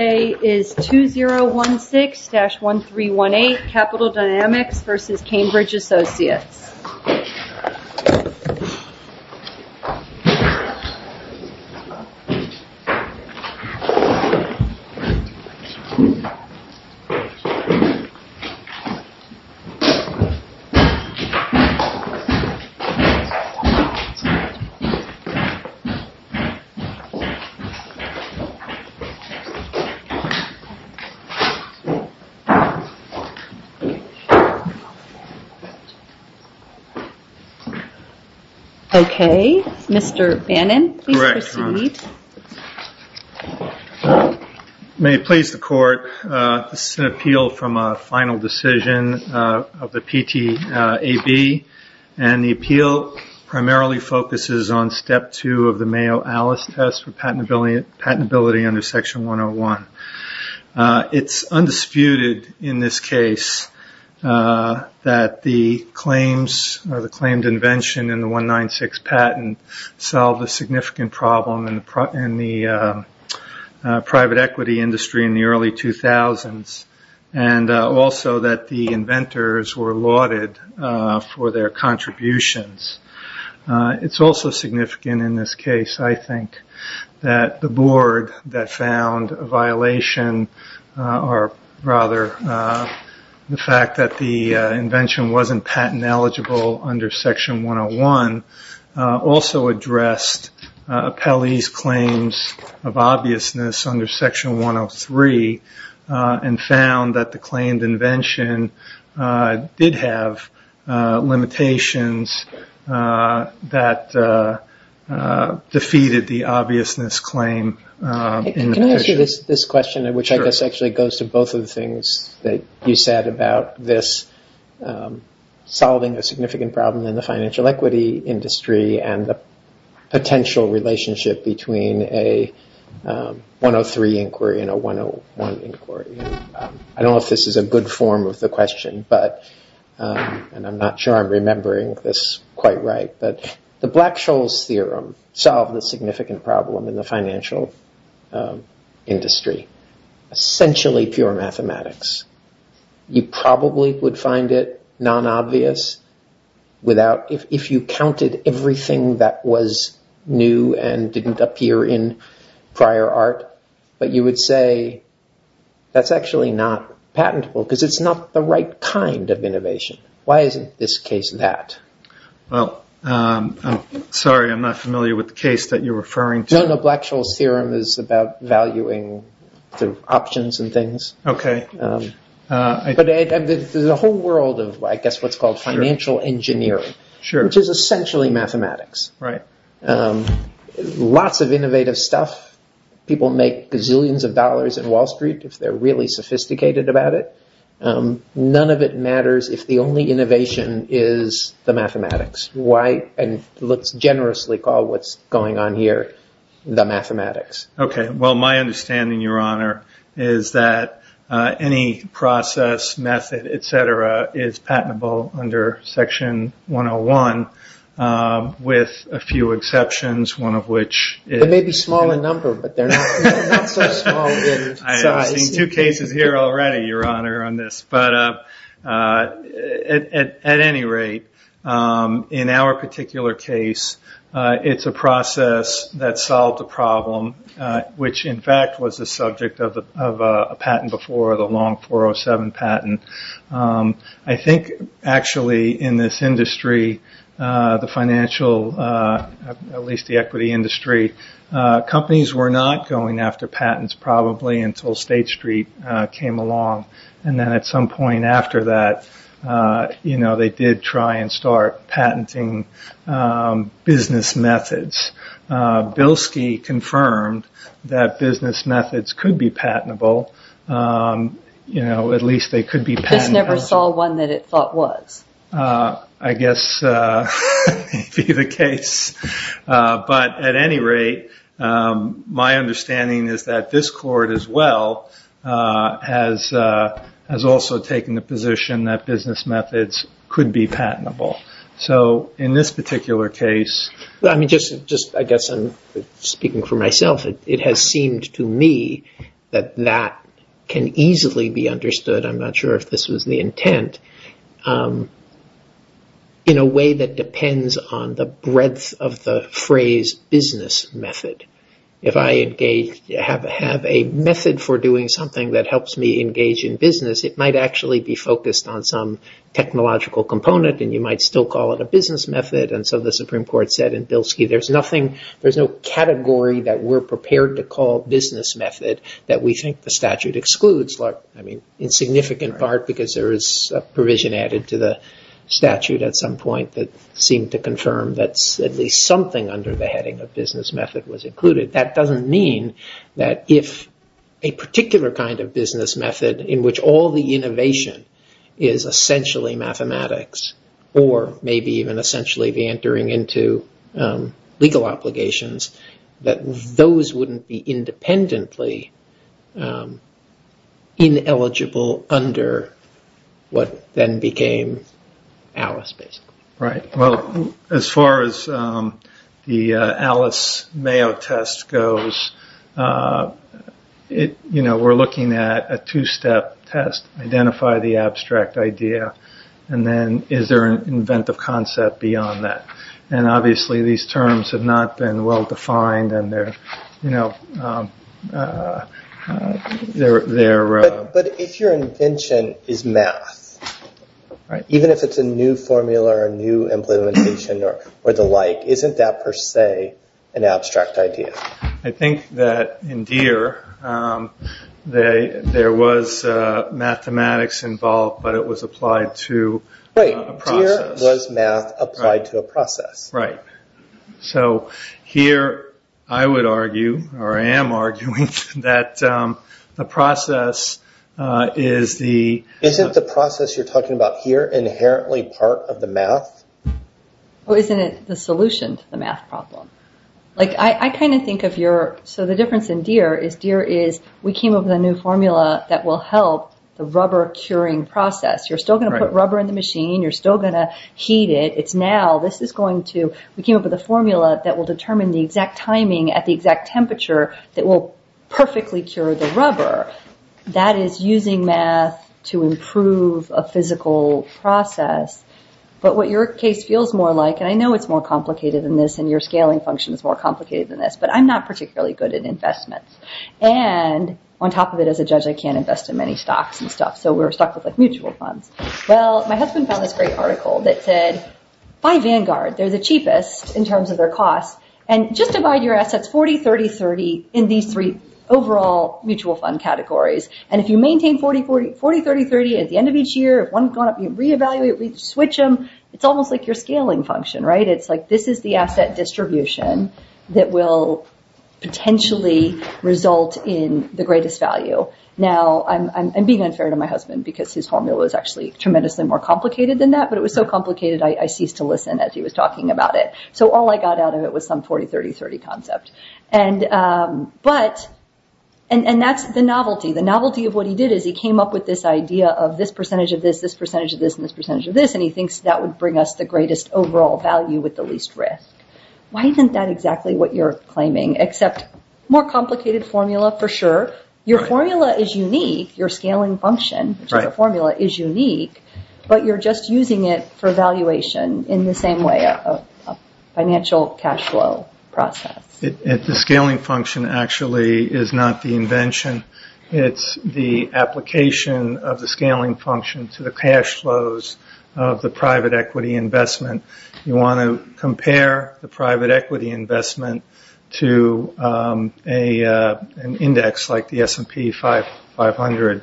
Today is 2016-1318 Capital Dynamics v. Cambridge Associates Okay, Mr. Bannon, please proceed May it please the Court, this is an appeal from a final decision of the PTAB and the appeal primarily focuses on Step 2 of the Section 101. It's undisputed in this case that the claims or the claimed invention in the 196 patent solved a significant problem in the private equity industry in the early 2000s and also that the inventors were lauded for their contributions. It's also significant in this case, I think, that the board that found a violation or rather the fact that the invention wasn't patent eligible under Section 101 also addressed Pelley's claims of obviousness under Section 103 and found that the claimed invention did have limitations that defeated the obviousness claim. Can I ask you this question, which I guess actually goes to both of the things that you said about this solving a significant problem in the financial equity industry and the potential relationship between a 103 inquiry and a 101 inquiry. I don't know if this is a good form of the question, but I'm not sure I'm remembering this quite right, but the Black-Scholes theorem solved a significant problem in the financial industry, essentially pure mathematics. You probably would find it non-obvious if you counted everything that was new and didn't appear in prior art, but you would say that's actually not patentable because it's not the right kind of innovation. Why isn't this case that? Sorry, I'm not familiar with the case that you're referring to. Black-Scholes theorem is about valuing the options and things. There's a whole world of, I guess, what's called financial engineering, which is essentially mathematics. Lots of innovative stuff. People make gazillions of dollars in Wall Street if they're really sophisticated about it. None of it matters if the only innovation is the mathematics. Let's generously call what's going on here the mathematics. My understanding, Your Honor, is that any process, method, et cetera, is patentable under Section 101 with a few exceptions, one of which is- They may be small in number, but they're not so small in size. I've seen two cases here already, Your Honor, on this. At any rate, in our particular case, it's a process that solved a problem, which in fact was the subject of a patent before, the Long 407 patent. I think actually in this industry, the financial, at least the equity industry, companies were not going after patents probably until State Street came along. Then at some point after that, they did try and start patenting business methods. Bilski confirmed that business methods could be patentable. At least they could be patentable. That's all one that it thought was. I guess that may be the case. At any rate, my understanding is that this court as well has also taken the position that business methods could be patentable. In this particular case- I guess I'm speaking for myself. It has seemed to me that that can easily be understood. I'm not sure if this was the intent in a way that depends on the breadth of the phrase business method. If I have a method for doing something that helps me engage in business, it might actually be focused on some technological component and you might still call it a business method. The Supreme Court said in Bilski, there's no category that we're prepared to call business method that we think the statute excludes. In significant part because there is a provision added to the statute at some point that seemed to confirm that at least something under the heading of business method was included. That doesn't mean that if a particular kind of business method in which all the innovation is essentially mathematics or maybe even essentially the entering into legal obligations that those wouldn't be independently ineligible under what then became Alice basically. As far as the Alice Mayo test goes, we're looking at a two-step test. Identify the abstract idea and then is there an inventive concept beyond that. Obviously these terms have not been well-defined and they're... If your invention is math, even if it's a new formula or new implementation or the like, isn't that per se an abstract idea? I think that in Deere, there was mathematics involved but it was applied to a process. Deere was math applied to a process. Here I would argue or I am arguing that the process is the... Isn't the process you're talking about here inherently part of the math? Isn't it the solution to the math problem? I think of your... Deere is we came up with a new formula that will help the rubber curing process. You're still going to put rubber in the machine. You're still going to heat it. It's now, this is going to... We came up with a formula that will determine the exact timing at the exact temperature that will perfectly cure the rubber. That is using math to improve a physical process but what your case feels more like and I know it's more complicated than this and your scaling function is more complicated than this but I'm not particularly good at investments and on top of it, as a judge, I can't invest in many stocks and stuff so we're stuck with like mutual funds. Well, my husband found this great article that said, buy Vanguard, they're the cheapest in terms of their cost and just divide your assets 40, 30, 30 in these three overall mutual fund categories and if you maintain 40, 30, 30 at the end of each year, if one's gone up, you reevaluate, you switch them, it's almost like your scaling function, right? It's like this is the asset distribution that will potentially result in the greatest value. Now I'm being unfair to my husband because his formula was actually tremendously more complicated than that but it was so complicated I ceased to listen as he was talking about it. So all I got out of it was some 40, 30, 30 concept and that's the novelty. The novelty of what he did is he came up with this idea of this percentage of this, this percentage of this and this percentage of this and he thinks that would bring us the greatest overall value with the least risk. Why isn't that exactly what you're claiming except more complicated formula for sure. Your formula is unique, your scaling function, which is a formula, is unique but you're just using it for valuation in the same way, a financial cash flow process. The scaling function actually is not the invention. It's the application of the scaling function to the cash flows of the private equity investment. You want to compare the private equity investment to an index like the S&P 500.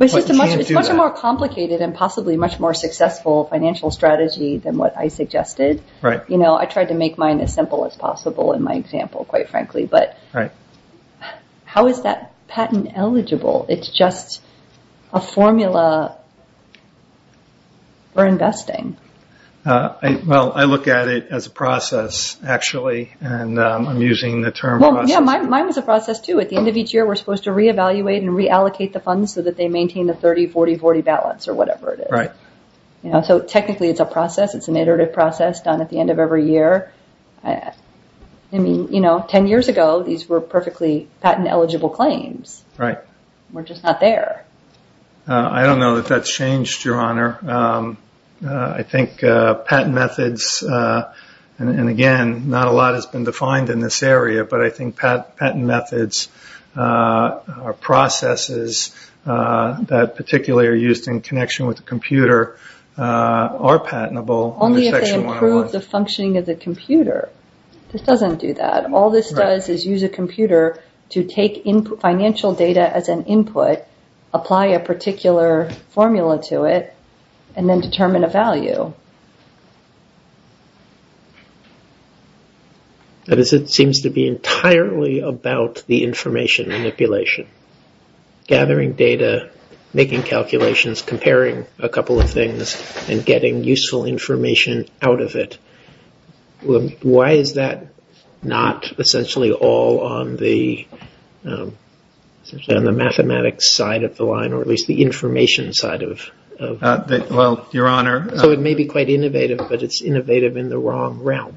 It's much more complicated and possibly much more successful financial strategy than what I suggested. I tried to make mine as simple as possible in my example quite frankly but how is that patent eligible? It's just a formula for investing. I look at it as a process actually and I'm using the term process. Mine was a process too. At the end of each year we're supposed to reevaluate and reallocate the funds so that they maintain the 30, 40, 40 balance or whatever it is. So technically it's a process. It's an iterative process done at the end of every year. Ten years ago these were perfectly patent eligible claims. We're just not there. I don't know that that's changed, Your Honor. I think patent methods, and again not a lot has been defined in this area, but I think patent methods or processes that particularly are used in connection with the computer are patentable. Only if they improve the functioning of the computer. This doesn't do that. All this does is use a computer to take financial data as an input, apply a particular formula to it, and then determine a value. It seems to be entirely about the information manipulation. Gathering data, making calculations, comparing a couple of things, and getting useful information out of it. Why is that not essentially all on the mathematics side of the line, or at least the information side of it? Well, Your Honor... So it may be quite innovative, but it's innovative in the wrong realm.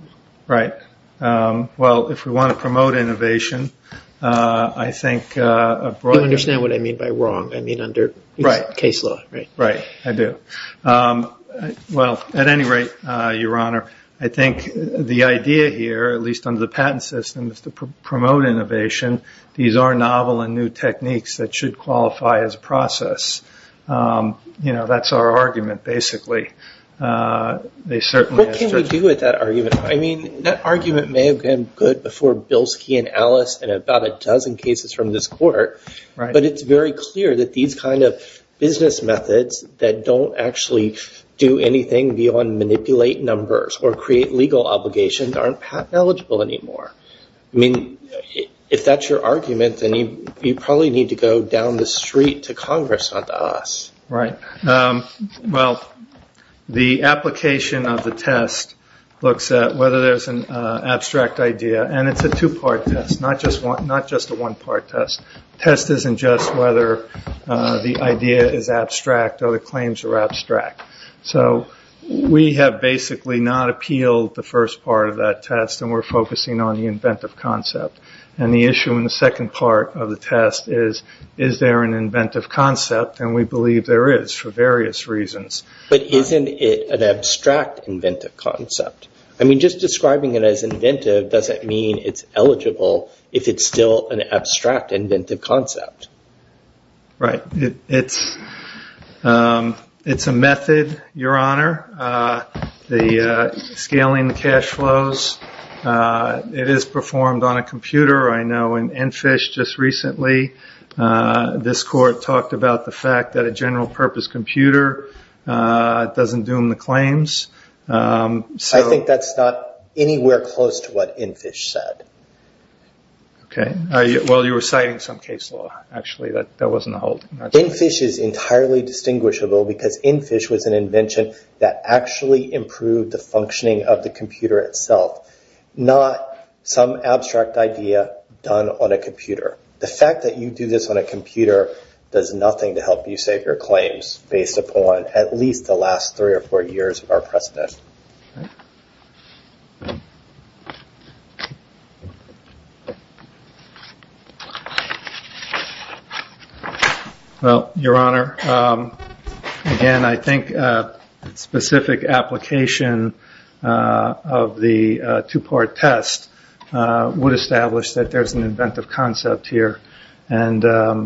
Right. Well, if we want to promote innovation, I think... You understand what I mean by wrong. I mean under case law, right? Right, I do. Well, at any rate, Your Honor, I think the idea here, at least under the patent system, is to promote innovation. These are novel and new techniques that should qualify as a process. That's our argument, basically. What can we do with that argument? I mean, that argument may have been good before Bilski and Ellis and about a dozen cases from this court, but it's very clear that these kind of business methods that don't actually do anything beyond manipulate numbers or create legal obligations aren't patent eligible anymore. I mean, if that's your argument, then you probably need to go down the street to Congress, not to us. Right. Well, the application of the test looks at whether there's an abstract idea, and it's a two-part test, not just a one-part test. The test isn't just whether the idea is abstract or the claims are abstract. So we have basically not appealed the first part of that test, and we're focusing on the inventive concept. And the issue in the second part of the test is, is there an inventive concept? And we believe there is, for various reasons. But isn't it an abstract inventive concept? I mean, just describing it as inventive doesn't mean it's eligible if it's still an abstract inventive concept. Right. It's a method, Your Honor, scaling the cash flows. It is performed on a computer. I know in Enfish, just recently, this court talked about the fact that a general-purpose computer doesn't doom the claims. I think that's not anywhere close to what Enfish said. Okay. Well, you were citing some case law, actually. That wasn't the whole thing. Enfish is entirely distinguishable, because Enfish was an invention that actually improved the functioning of the computer itself, not some abstract idea done on a computer. The fact that you do this on a computer does nothing to help you save your claims, based upon at least the last three or four years of our precedent. Well, Your Honor, again, I think a specific application of the two-part test would establish that there's an inventive concept here. Okay.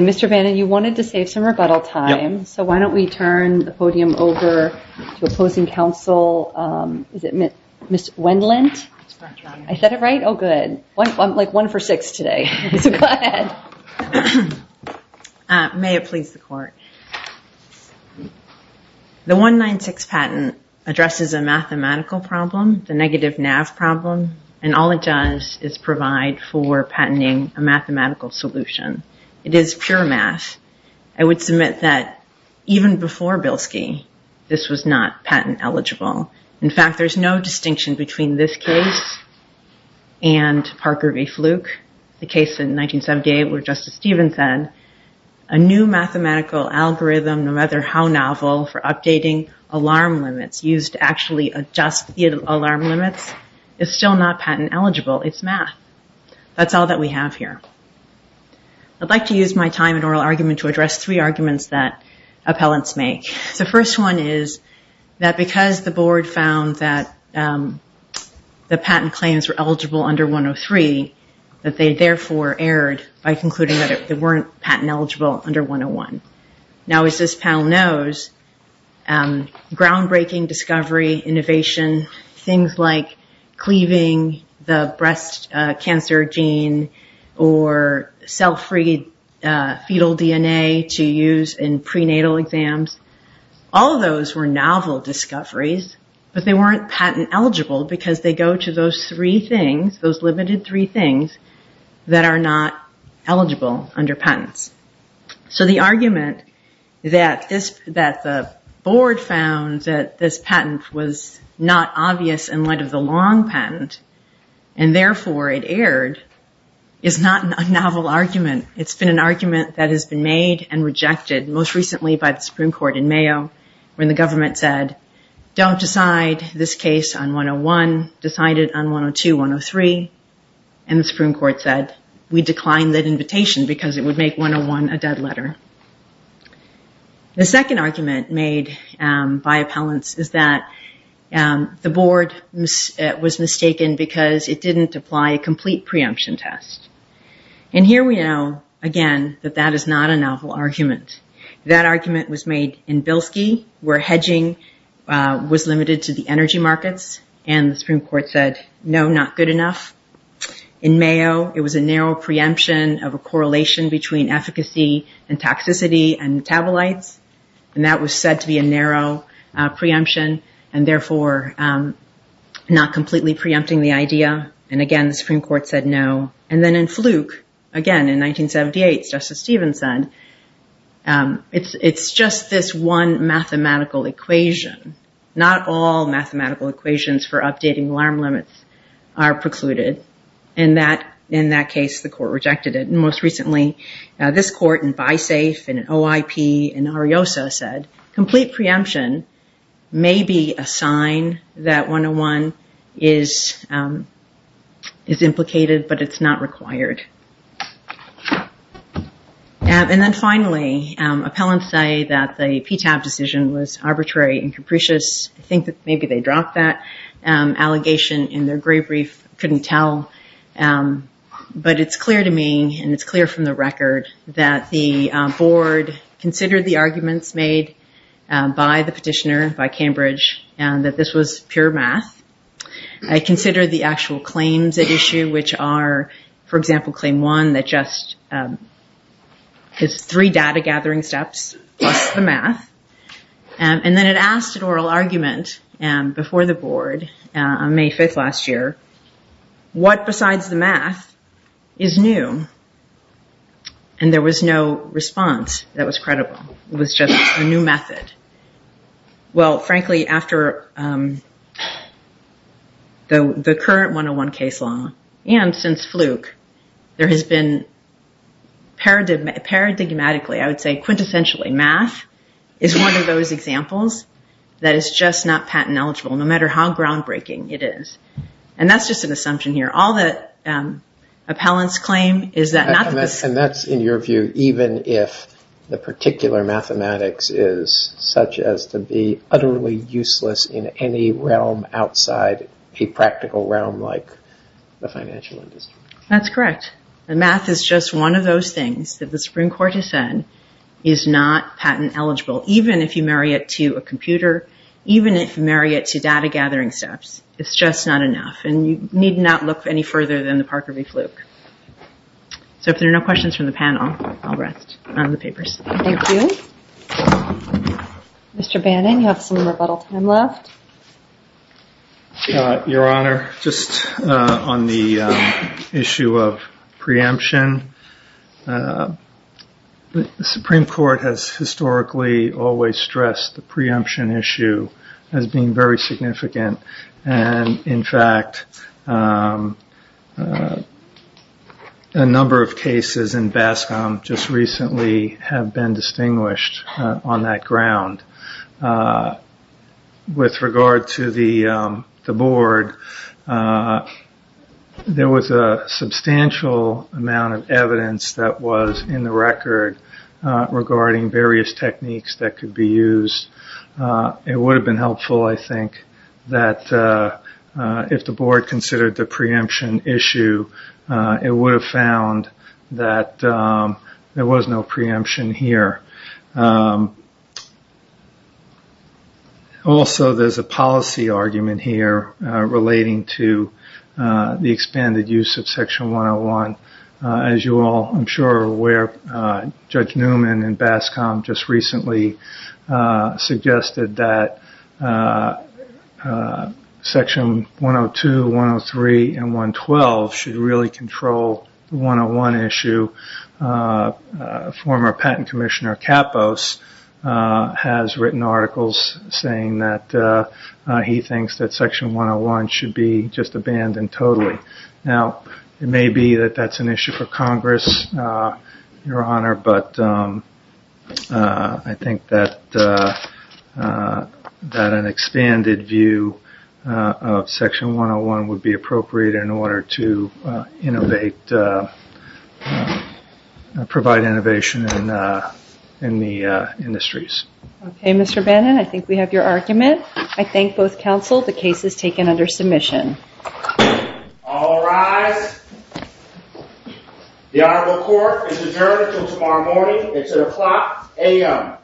Mr. Bannon, you wanted to save some rebuttal time. So why don't we turn the podium over to opposing counsel, Ms. Wendlandt. I said it right? Oh, good. I'm like one for six today. So go ahead. May it please the court. The 196 patent addresses a mathematical problem, the negative NAV problem. And all it does is provide for patenting a mathematical solution. It is pure math. I would submit that even before Bilski, this was not patent eligible. In fact, there's no distinction between this case and Parker v. Fluke, the case in 1978 where Justice Stevens said, a new mathematical algorithm, no matter how novel, for updating alarm limits, used to actually adjust the alarm limits, is still not patent eligible. It's math. That's all that we have here. I'd like to use my time and oral argument to address three arguments that appellants make. The first one is that because the board found that the patent claims were eligible under 103, that they therefore erred by concluding that they weren't patent eligible under 101. Now, as this panel knows, groundbreaking discovery, innovation, things like cleaving the breast cancer gene or cell-free fetal DNA to use in prenatal exams, all of those were novel discoveries, but they weren't patent eligible because they go to those three things, those limited three things that are not eligible under patents. The argument that the board found that this patent was not obvious in light of the long patent, and therefore it erred, is not a novel argument. It's been an argument that has been made and rejected, most recently by the Supreme Court in Mayo, when the government said, don't decide this case on 101, decide it on 102, 103. The Supreme Court said, we declined that invitation because it would make 101 a dead letter. The second argument made by appellants is that the board was mistaken because it didn't apply a complete preemption test. Here we know, again, that that is not a novel argument. That argument was made in Bilski, where hedging was limited to the energy markets, and the in Mayo, it was a narrow preemption of a correlation between efficacy and toxicity and metabolites. That was said to be a narrow preemption, and therefore not completely preempting the idea. Again, the Supreme Court said no. Then in Fluke, again, in 1978, Justice Stevens said, it's just this one mathematical equation. Not all mathematical equations for updating alarm limits are precluded, and in that case, the court rejected it. Most recently, this court in BiSAFE and OIP in Ariosa said, complete preemption may be a sign that 101 is implicated, but it's not required. Then finally, appellants say that the PTAB decision was arbitrary and capricious. I think that maybe they dropped that allegation in their grave reef, couldn't tell, but it's clear to me, and it's clear from the record, that the board considered the arguments made by the petitioner, by Cambridge, and that this was pure math. I consider the actual claims at issue, which are, for example, claim one, that just is three data gathering steps plus the math, and then it asked an oral argument before the board on May 5th last year, what besides the math is new? There was no response that was credible. It was just a new method. Well, frankly, after the current 101 case law, and since Fluke, there has been paradigmatically, I would say, quintessentially, math is one of those examples that is just not patent eligible, no matter how groundbreaking it is, and that's just an assumption here. All that appellants claim is that not the... Such as to be utterly useless in any realm outside a practical realm like the financial industry. That's correct. The math is just one of those things that the Supreme Court has said is not patent eligible, even if you marry it to a computer, even if you marry it to data gathering steps. It's just not enough, and you need not look any further than the Parker v. Fluke. If there are no questions from the panel, I'll rest on the papers. Thank you. Mr. Bannon? Mr. Bannon, you have some rebuttal time left. Your Honor, just on the issue of preemption, the Supreme Court has historically always stressed the preemption issue as being very significant, and in fact, a number of cases in Bascom just recently have been distinguished on that ground. With regard to the board, there was a substantial amount of evidence that was in the record regarding various techniques that could be used. It would have been helpful, I think, that if the board considered the preemption issue, it would have found that there was no preemption here. Also, there's a policy argument here relating to the expanded use of Section 101. As you all, I'm sure, are aware, Judge Newman in Bascom just recently suggested that Section 102, 103, and 112 should really control the 101 issue. Former Patent Commissioner Kappos has written articles saying that he thinks that Section 101 should be just abandoned totally. Now, it may be that that's an issue for Congress, Your Honor, but I think that an expanded view of Section 101 would be appropriate in order to innovate, provide innovation in the industries. Okay, Mr. Bannon, I think we have your argument. I thank both counsel. The case is taken under submission. All rise. The Honorable Court is adjourned until tomorrow morning. It's at o'clock a.m. Thank you.